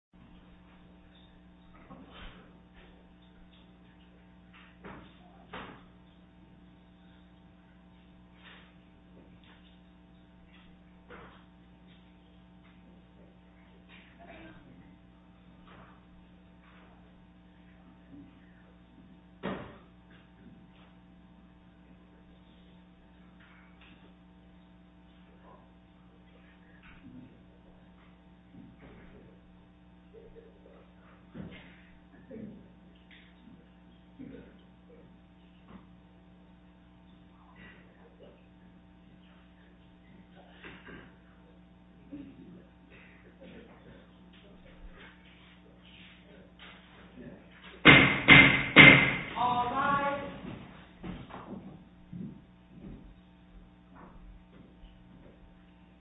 Supporting Society Training All rise.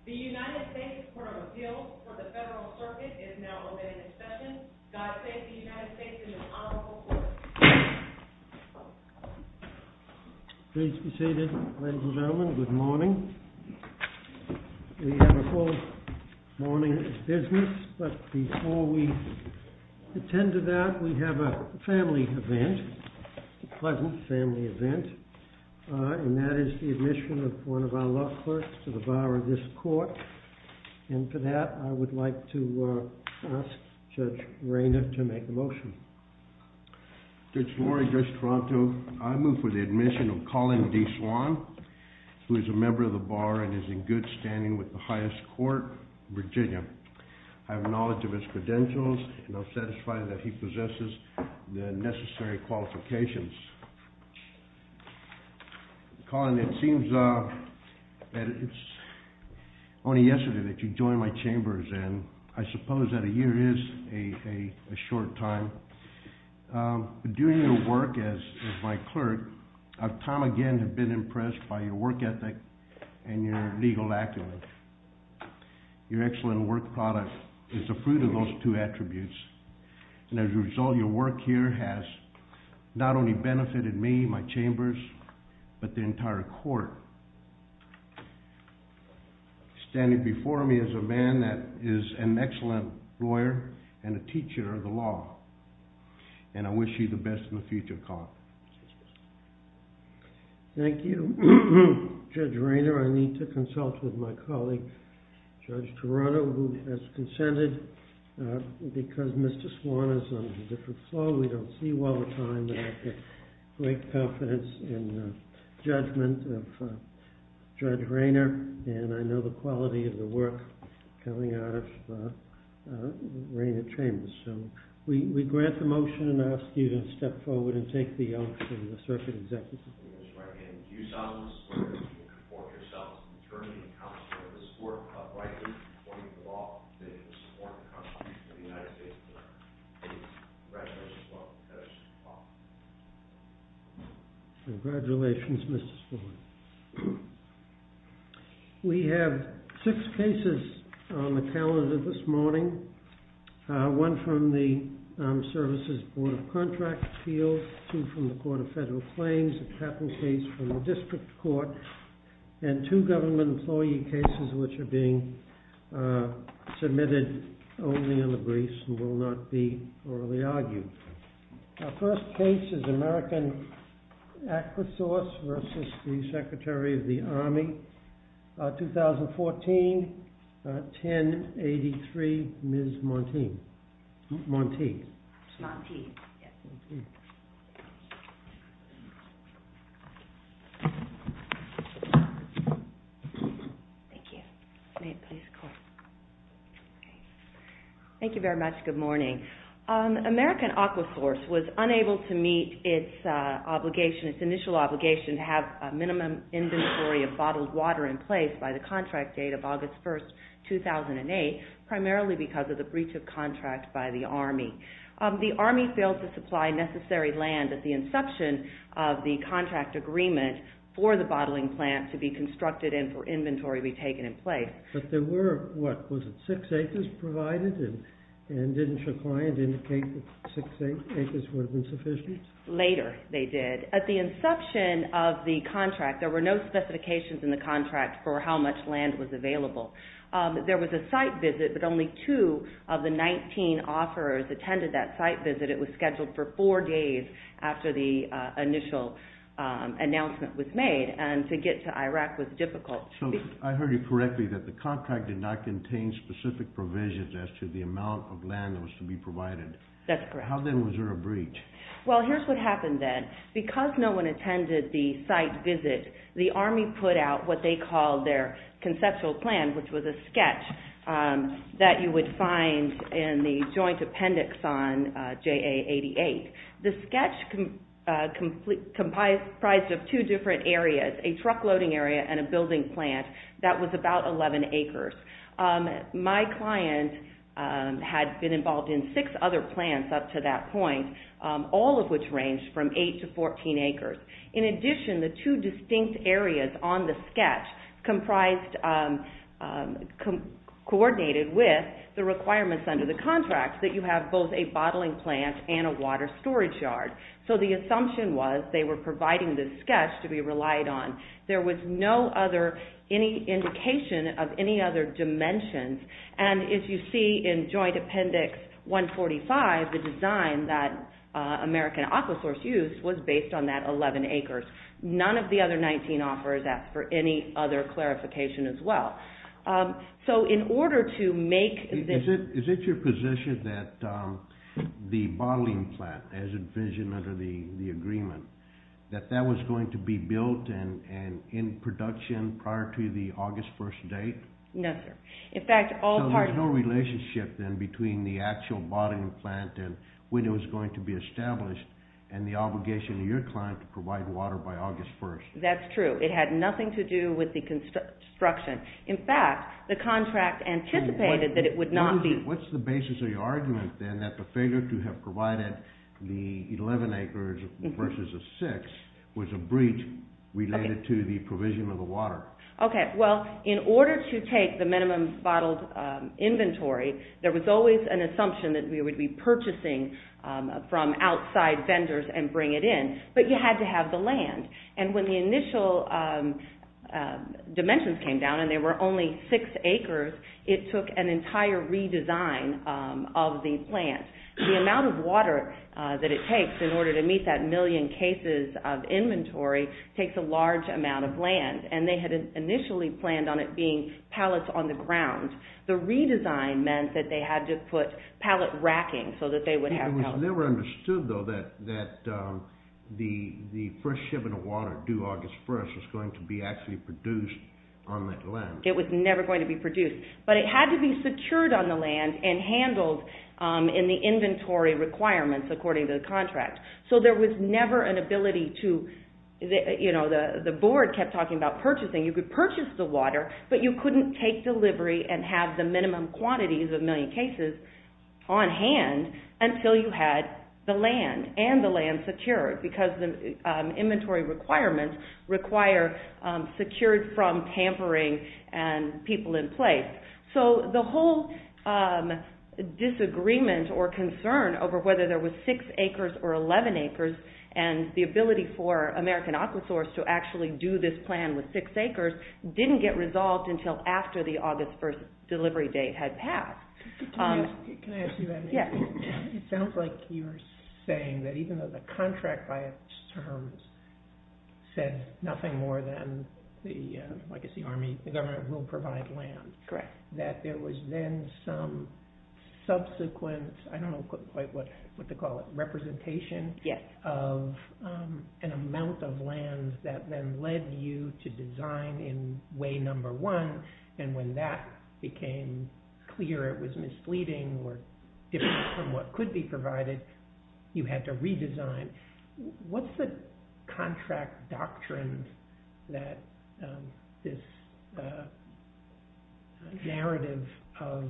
The United States Court of Appeals for the Federal Circuit is now open for discussion. God save the United States and the Honorable Court. Please be seated, ladies and gentlemen. Good morning. We have a full morning of business, but before we attend to that, we have a family event. A pleasant family event. And that is the admission of one of our law clerks to the bar of this court. And for that, I would like to ask Judge Rayner to make a motion. Judge Lori, Judge Toronto, I move for the admission of Colin D. Swan, who is a member of the bar and is in good standing with the highest court in Virginia. I have knowledge of his credentials, and I'm satisfied that he possesses the necessary qualifications. Colin, it seems that it's only yesterday that you joined my chambers, and I suppose that a year is a short time. During your work as my clerk, I've time again been impressed by your work ethic and your legal acumen. Your excellent work product is the fruit of those two attributes, and as a result, your work here has not only benefited me, my chambers, but the entire court. Standing before me is a man that is an excellent lawyer and a teacher of the law. And I wish you the best in the future, Colin. Thank you, Judge Rayner. I need to consult with my colleague, Judge Toronto, who has consented. Because Mr. Swan is on a different floor, we don't see you all the time. But I have great confidence in the judgment of Judge Rayner, and I know the quality of the work coming out of Rayner Chambers. So we grant the motion and ask you to step forward and take the oath in the circuit executive. I'm going to just write again. Do you solemnly swear that you will conform yourself to the terms and conditions of this court, uprightly, according to the law, that you will support the Constitution of the United States of America? I do. Congratulations, Mr. Swan. Congratulations, Mr. Swan. We have six cases on the calendar this morning. One from the Armed Services Board of Contract Appeals. Two from the Court of Federal Claims. A patent case from the District Court. And two government employee cases which are being submitted only in the briefs and will not be orally argued. Our first case is American Aquasource versus the Secretary of the Army, 2014, 1083, Ms. Monti. Monti. Monti, yes. Thank you. May it please the Court. Thank you very much. Good morning. American Aquasource was unable to meet its initial obligation to have a minimum inventory of bottled water in place by the contract date of August 1, 2008, primarily because of the breach of contract by the Army. The Army failed to supply necessary land at the inception of the contract agreement for the bottling plant to be constructed and for inventory to be taken in place. But there were, what was it, six acres provided? And didn't your client indicate that six acres would have been sufficient? Later they did. At the inception of the contract, there were no specifications in the contract for how much land was available. There was a site visit, but only two of the 19 offerors attended that site visit. It was scheduled for four days after the initial announcement was made. And to get to Iraq was difficult. So I heard you correctly that the contract did not contain specific provisions as to the amount of land that was to be provided. That's correct. How then was there a breach? Well, here's what happened then. Because no one attended the site visit, the Army put out what they called their conceptual plan, which was a sketch that you would find in the joint appendix on JA88. The sketch comprised of two different areas, a truckloading area and a building plant that was about 11 acres. My client had been involved in six other plants up to that point, all of which ranged from 8 to 14 acres. In addition, the two distinct areas on the sketch coordinated with the requirements under the contract that you have both a bottling plant and a water storage yard. So the assumption was they were providing the sketch to be relied on. There was no other indication of any other dimensions. And as you see in joint appendix 145, the design that American Aquasource used was based on that 11 acres. None of the other 19 offers asked for any other clarification as well. So in order to make this… Is it your position that the bottling plant, as envisioned under the agreement, that that was going to be built and in production prior to the August 1st date? No, sir. So there's no relationship then between the actual bottling plant and when it was going to be established and the obligation of your client to provide water by August 1st. That's true. It had nothing to do with the construction. In fact, the contract anticipated that it would not be. What's the basis of your argument then that the failure to have provided the 11 acres versus a six was a breach related to the provision of the water? Okay, well, in order to take the minimum bottled inventory, there was always an assumption that we would be purchasing from outside vendors and bring it in. But you had to have the land. And when the initial dimensions came down and there were only six acres, it took an entire redesign of the plant. The amount of water that it takes in order to meet that million cases of inventory takes a large amount of land. And they had initially planned on it being pallets on the ground. The redesign meant that they had to put pallet racking so that they would have… It was never understood, though, that the first shipping of water due August 1st was going to be actually produced on that land. It was never going to be produced. But it had to be secured on the land and handled in the inventory requirements according to the contract. So there was never an ability to… The board kept talking about purchasing. You could purchase the water, but you couldn't take delivery and have the minimum quantities of million cases on hand until you had the land and the land secured. Because the inventory requirements require secured from tampering and people in place. So the whole disagreement or concern over whether there were six acres or 11 acres and the ability for American Aquasource to actually do this plan with six acres didn't get resolved until after the August 1st delivery date had passed. Can I ask you that? Yeah. It sounds like you're saying that even though the contract by its terms said nothing more than the Army, the government, will provide land. Correct. That there was then some subsequent… I don't know quite what to call it. Representation? Yes. Of an amount of land that then led you to design in way number one. And when that became clear it was misleading or different from what could be provided, you had to redesign. What's the contract doctrine that this narrative of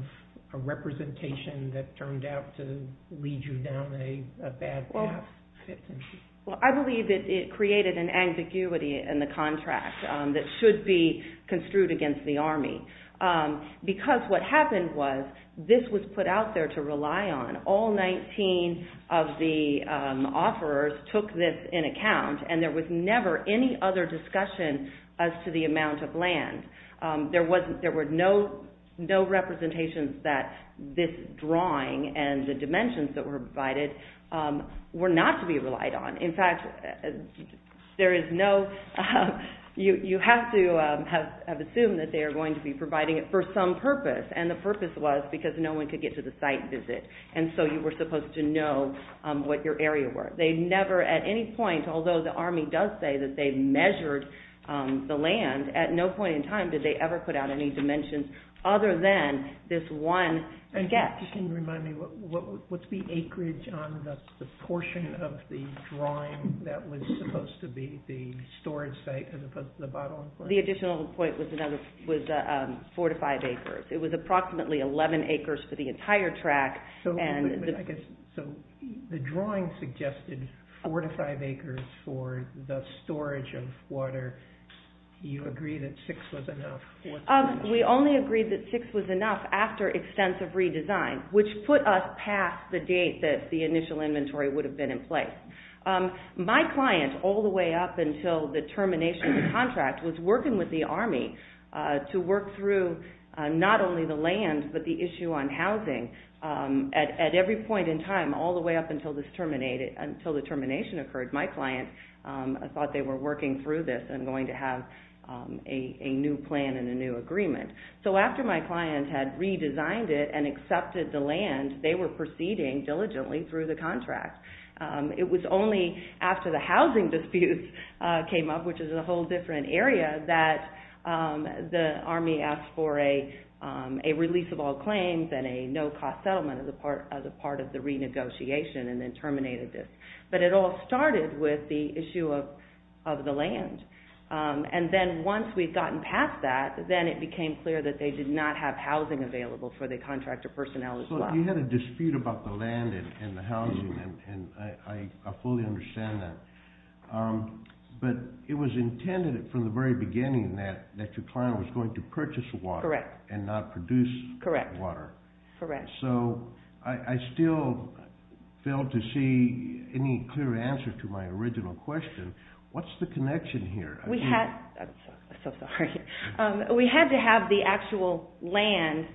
a representation that turned out to lead you down a bad path fits into? Well, I believe that it created an ambiguity in the contract that should be construed against the Army. Because what happened was this was put out there to rely on. All 19 of the offerors took this in account and there was never any other discussion as to the amount of land. There were no representations that this drawing and the dimensions that were provided were not to be relied on. In fact, you have to have assumed that they are going to be providing it for some purpose. And the purpose was because no one could get to the site visit. And so you were supposed to know what your area were. They never at any point, although the Army does say that they measured the land, at no point in time did they ever put out any dimensions other than this one gap. That just didn't remind me, what's the acreage on the portion of the drawing that was supposed to be the storage site as opposed to the bottom? The additional point was 4 to 5 acres. It was approximately 11 acres for the entire track. So the drawing suggested 4 to 5 acres for the storage of water. You agree that 6 was enough. We only agreed that 6 was enough after extensive redesign, which put us past the date that the initial inventory would have been in place. My client, all the way up until the termination of the contract, was working with the Army to work through not only the land but the issue on housing. At every point in time, all the way up until the termination occurred, my client thought they were working through this and going to have a new plan. A new agreement. So after my client had redesigned it and accepted the land, they were proceeding diligently through the contract. It was only after the housing dispute came up, which is a whole different area, that the Army asked for a release of all claims and a no-cost settlement as a part of the renegotiation and then terminated this. But it all started with the issue of the land. And then once we'd gotten past that, then it became clear that they did not have housing available for the contractor personnel as well. So you had a dispute about the land and the housing, and I fully understand that. But it was intended from the very beginning that your client was going to purchase water and not produce water. Correct. So I still fail to see any clear answer to my original question. What's the connection here? I'm so sorry. We had to have the actual land,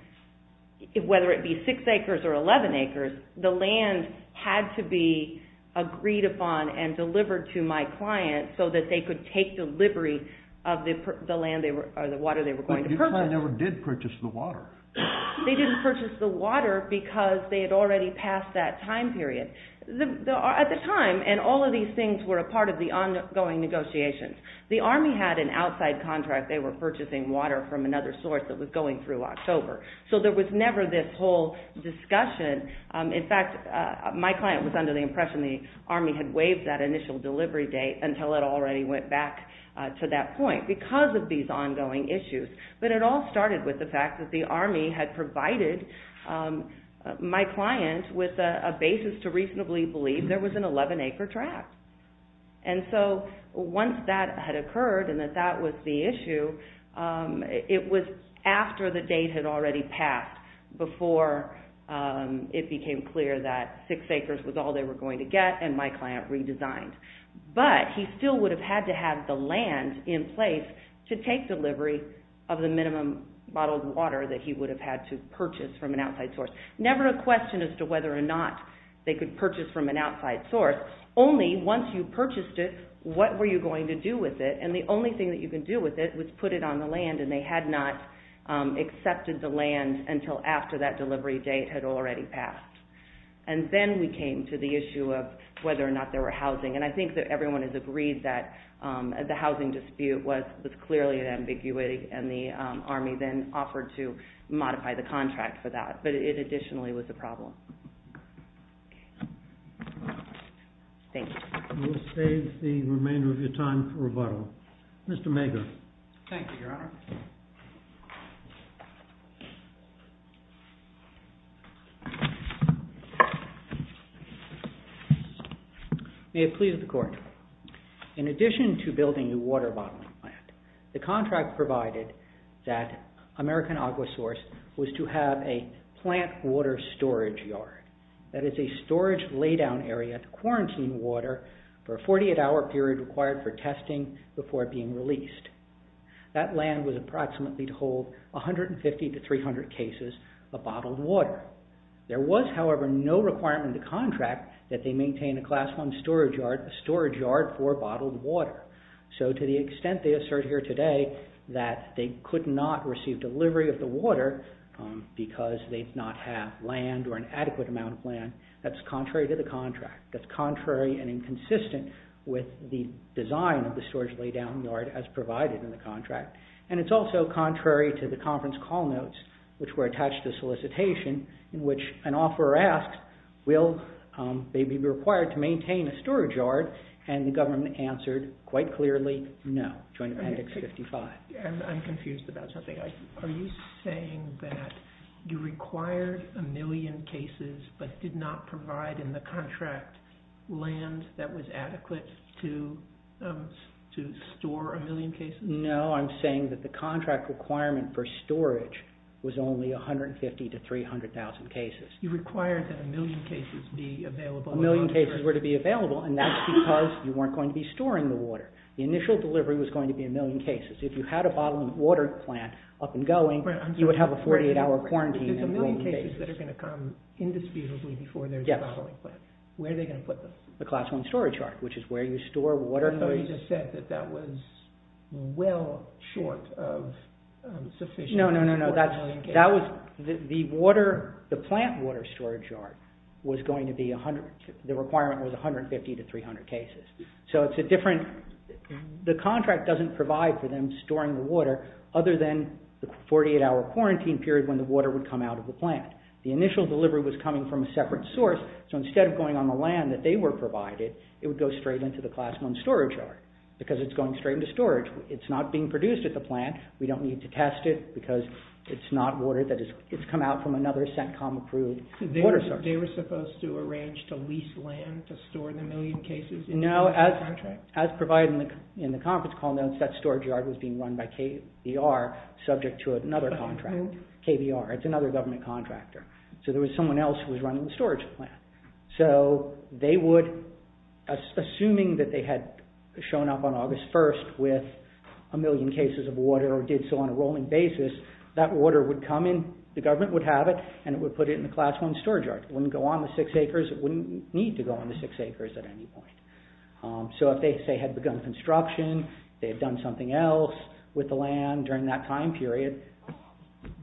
whether it be six acres or 11 acres, the land had to be agreed upon and delivered to my client so that they could take delivery of the water they were going to purchase. But your client never did purchase the water. They didn't purchase the water because they had already passed that time period. At the time, and all of these things were a part of the ongoing negotiations, the Army had an outside contract. They were purchasing water from another source that was going through October. So there was never this whole discussion. In fact, my client was under the impression the Army had waived that initial delivery date until it already went back to that point because of these ongoing issues. But it all started with the fact that the Army had provided my client with a basis to reasonably believe there was an 11-acre tract. And so once that had occurred and that that was the issue, it was after the date had already passed before it became clear that six acres was all they were going to get and my client redesigned. But he still would have had to have the land in place to take delivery of the minimum bottled water that he would have had to purchase from an outside source. Never a question as to whether or not they could purchase from an outside source. Only once you purchased it, what were you going to do with it? And the only thing that you could do with it was put it on the land and they had not accepted the land until after that delivery date had already passed. And then we came to the issue of whether or not there were housing. And I think that everyone has agreed that the housing dispute was clearly an ambiguity and the Army then offered to modify the contract for that. But it additionally was a problem. Thank you. We'll save the remainder of your time for rebuttal. Mr. Mager. Thank you, Your Honor. May it please the Court. In addition to building a water bottling plant, the contract provided that American Aquasource was to have a plant water storage yard. That is a storage lay-down area to quarantine water for a 48-hour period required for testing before being released. That land was approximately to hold 150 to 300 cases of bottled water. There was, however, no requirement in the contract that they maintain a Class I storage yard for bottled water. So to the extent they assert here today that they could not receive delivery of the water because they did not have land or an adequate amount of land, that's contrary to the contract. That's contrary and inconsistent with the design of the storage lay-down yard as provided in the contract. And it's also contrary to the conference call notes, which were attached to solicitation, in which an offeror asked, will they be required to maintain a storage yard? And the government answered quite clearly, no, joint appendix 55. I'm confused about something. Are you saying that you required a million cases but did not provide in the contract land that was adequate to store a million cases? No, I'm saying that the contract requirement for storage was only 150 to 300,000 cases. You required that a million cases be available. A million cases were to be available, and that's because you weren't going to be storing the water. The initial delivery was going to be a million cases. If you had a bottling water plant up and going, you would have a 48-hour quarantine. There's a million cases that are going to come indisputably before there's a bottling plant. Where are they going to put them? The class one storage yard, which is where you store water. So you just said that that was well short of sufficient for a million cases. No, no, no. The plant water storage yard, the requirement was 150 to 300 cases. The contract doesn't provide for them storing the water other than the 48-hour quarantine period when the water would come out of the plant. The initial delivery was coming from a separate source, so instead of going on the land that they were provided, it would go straight into the class one storage yard because it's going straight into storage. It's not being produced at the plant. We don't need to test it because it's not water that has come out from another CENTCOM-approved water source. They were supposed to arrange to lease land to store the million cases? No, as provided in the conference call notes, that storage yard was being run by KVR, subject to another contract. KVR, it's another government contractor. So there was someone else who was running the storage plant. So they would, assuming that they had shown up on August 1st with a million cases of water or did so on a rolling basis, that water would come in, the government would have it, and it would put it in the class one storage yard. It wouldn't go on the six acres. It wouldn't need to go on the six acres at any point. So if they, say, had begun construction, they had done something else with the land during that time period,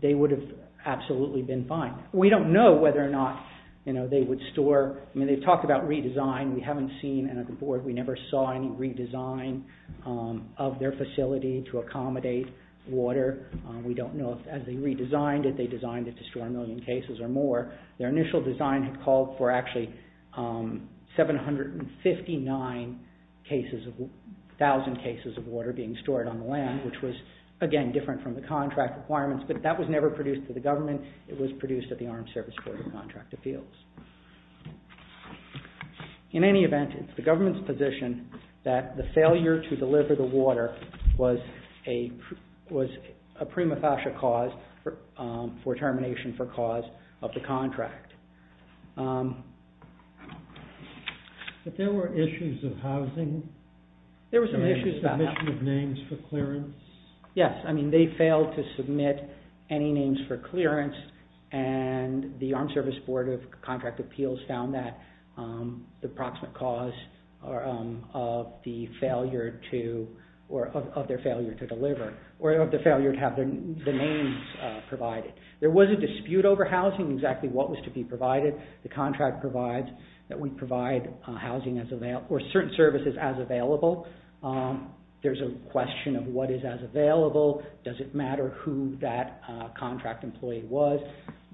they would have absolutely been fine. We don't know whether or not, you know, they would store. I mean, they've talked about redesign. We haven't seen, and at the board, we never saw any redesign of their facility to accommodate water. We don't know if, as they redesigned it, they designed it to store a million cases or more. Their initial design had called for actually 759 cases of, thousand cases of water being stored on the land, which was, again, different from the contract requirements, but that was never produced to the government. It was produced at the Armed Services Board of Contract Appeals. In any event, it's the government's position that the failure to deliver the water was a prima facie cause for termination for cause of the contract. But there were issues of housing? There were some issues about that. The issue of names for clearance? Yes, I mean, they failed to submit any names for clearance, and the Armed Services Board of Contract Appeals found that the proximate cause of the failure to, or of their failure to deliver, or of the failure to have the names provided. There was a dispute over housing, exactly what was to be provided. The contract provides that we provide housing as available, or certain services as available. There's a question of what is as available. Does it matter who that contract employee was?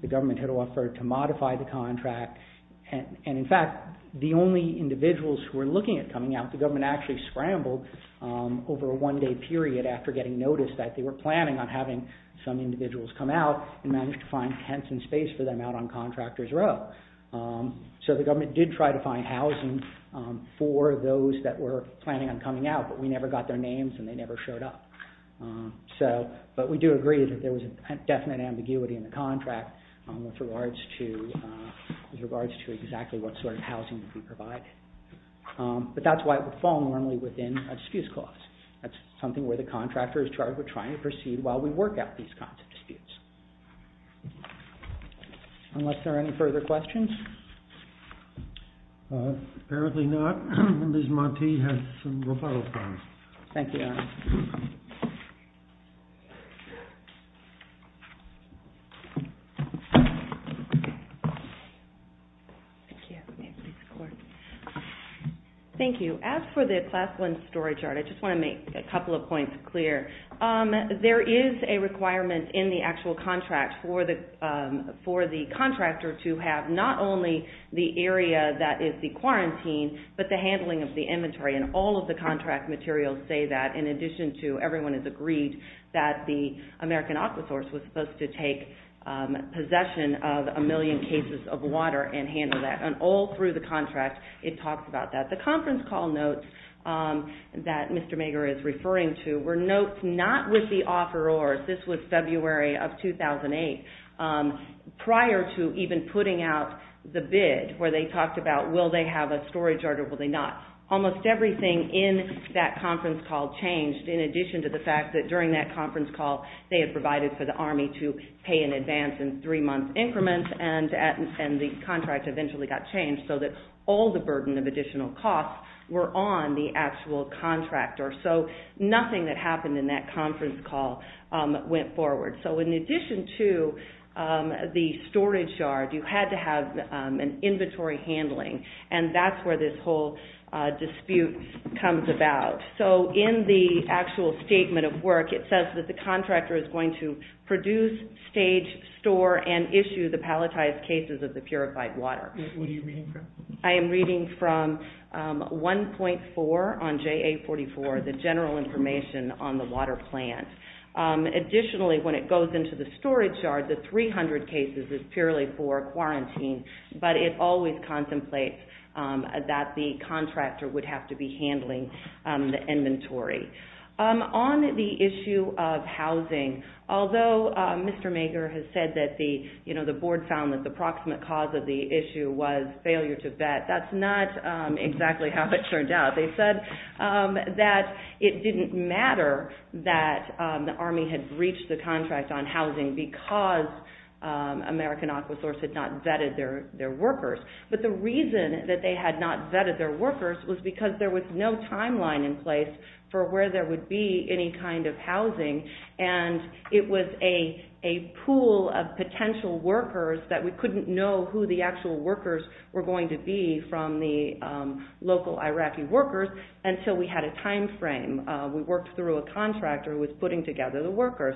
The government had offered to modify the contract, and in fact, the only individuals who were looking at coming out, the government actually scrambled over a one-day period after getting notice that they were planning on having some individuals come out, and managed to find tents and space for them out on contractor's row. So the government did try to find housing for those that were planning on coming out, but we never got their names, and they never showed up. But we do agree that there was a definite ambiguity in the contract with regards to exactly what sort of housing to be provided. But that's why it would fall normally within a dispute clause. That's something where the contractor is charged with trying to proceed while we work out these kinds of disputes. Unless there are any further questions? Apparently not. Ms. Montee has some referral forms. Thank you. Thank you. As for the Class 1 storage yard, I just want to make a couple of points clear. There is a requirement in the actual contract for the contractor to have not only the area that is the quarantine, but the handling of the inventory, and all of the contract materials say that, in addition to everyone has agreed, that the American Aquasource was supposed to take possession of a million cases of water and handle that. And all through the contract, it talks about that. The conference call notes that Mr. Mager is referring to were notes not with the offerors. This was February of 2008. Prior to even putting out the bid where they talked about will they have a storage yard or will they not, almost everything in that conference call changed in addition to the fact that during that conference call, they had provided for the Army to pay in advance in three-month increments, and the contract eventually got changed so that all the burden of additional costs were on the actual contractor. So nothing that happened in that conference call went forward. So in addition to the storage yard, you had to have an inventory handling, and that's where this whole dispute comes about. So in the actual statement of work, it says that the contractor is going to produce, stage, store, and issue the palletized cases of the purified water. What are you reading from? I am reading from 1.4 on JA44, the general information on the water plant. Additionally, when it goes into the storage yard, the 300 cases is purely for quarantine, but it always contemplates that the contractor would have to be handling the inventory. On the issue of housing, although Mr. Mager has said that the board found that the approximate cause of the issue was failure to vet, that's not exactly how it turned out. They said that it didn't matter that the Army had breached the contract on housing because American Aquasource had not vetted their workers. But the reason that they had not vetted their workers was because there was no timeline in place for where there would be any kind of housing, and it was a pool of potential workers that we couldn't know who the actual workers were going to be from the local Iraqi workers until we had a time frame. We worked through a contractor who was putting together the workers.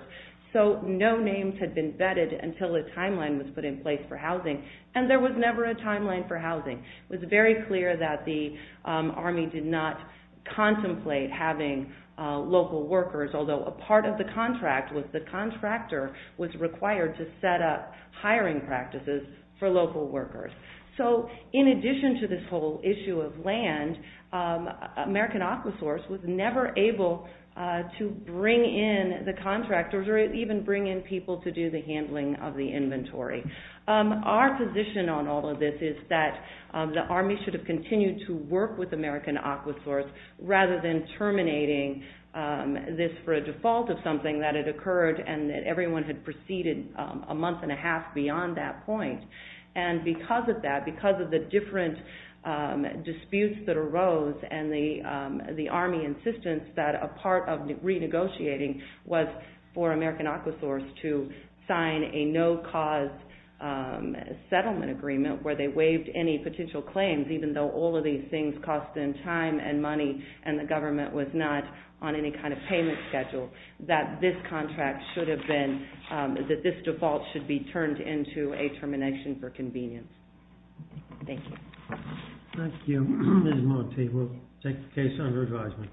So no names had been vetted until a timeline was put in place for housing, and there was never a timeline for housing. It was very clear that the Army did not contemplate having local workers, although a part of the contract was the contractor was required to set up hiring practices for local workers. So in addition to this whole issue of land, American Aquasource was never able to bring in the contractors or even bring in people to do the handling of the inventory. Our position on all of this is that the Army should have continued to work with American Aquasource rather than terminating this for a default of something that had occurred and that everyone had proceeded a month and a half beyond that point. And because of that, because of the different disputes that arose and the Army insistence that a part of renegotiating was for American Aquasource to sign a no-cause settlement agreement where they waived any potential claims, even though all of these things cost them time and money and the government was not on any kind of payment schedule, that this contract should have been, that this default should be turned into a termination for convenience. Thank you. Thank you. Ms. Monte, we'll take the case under advisement.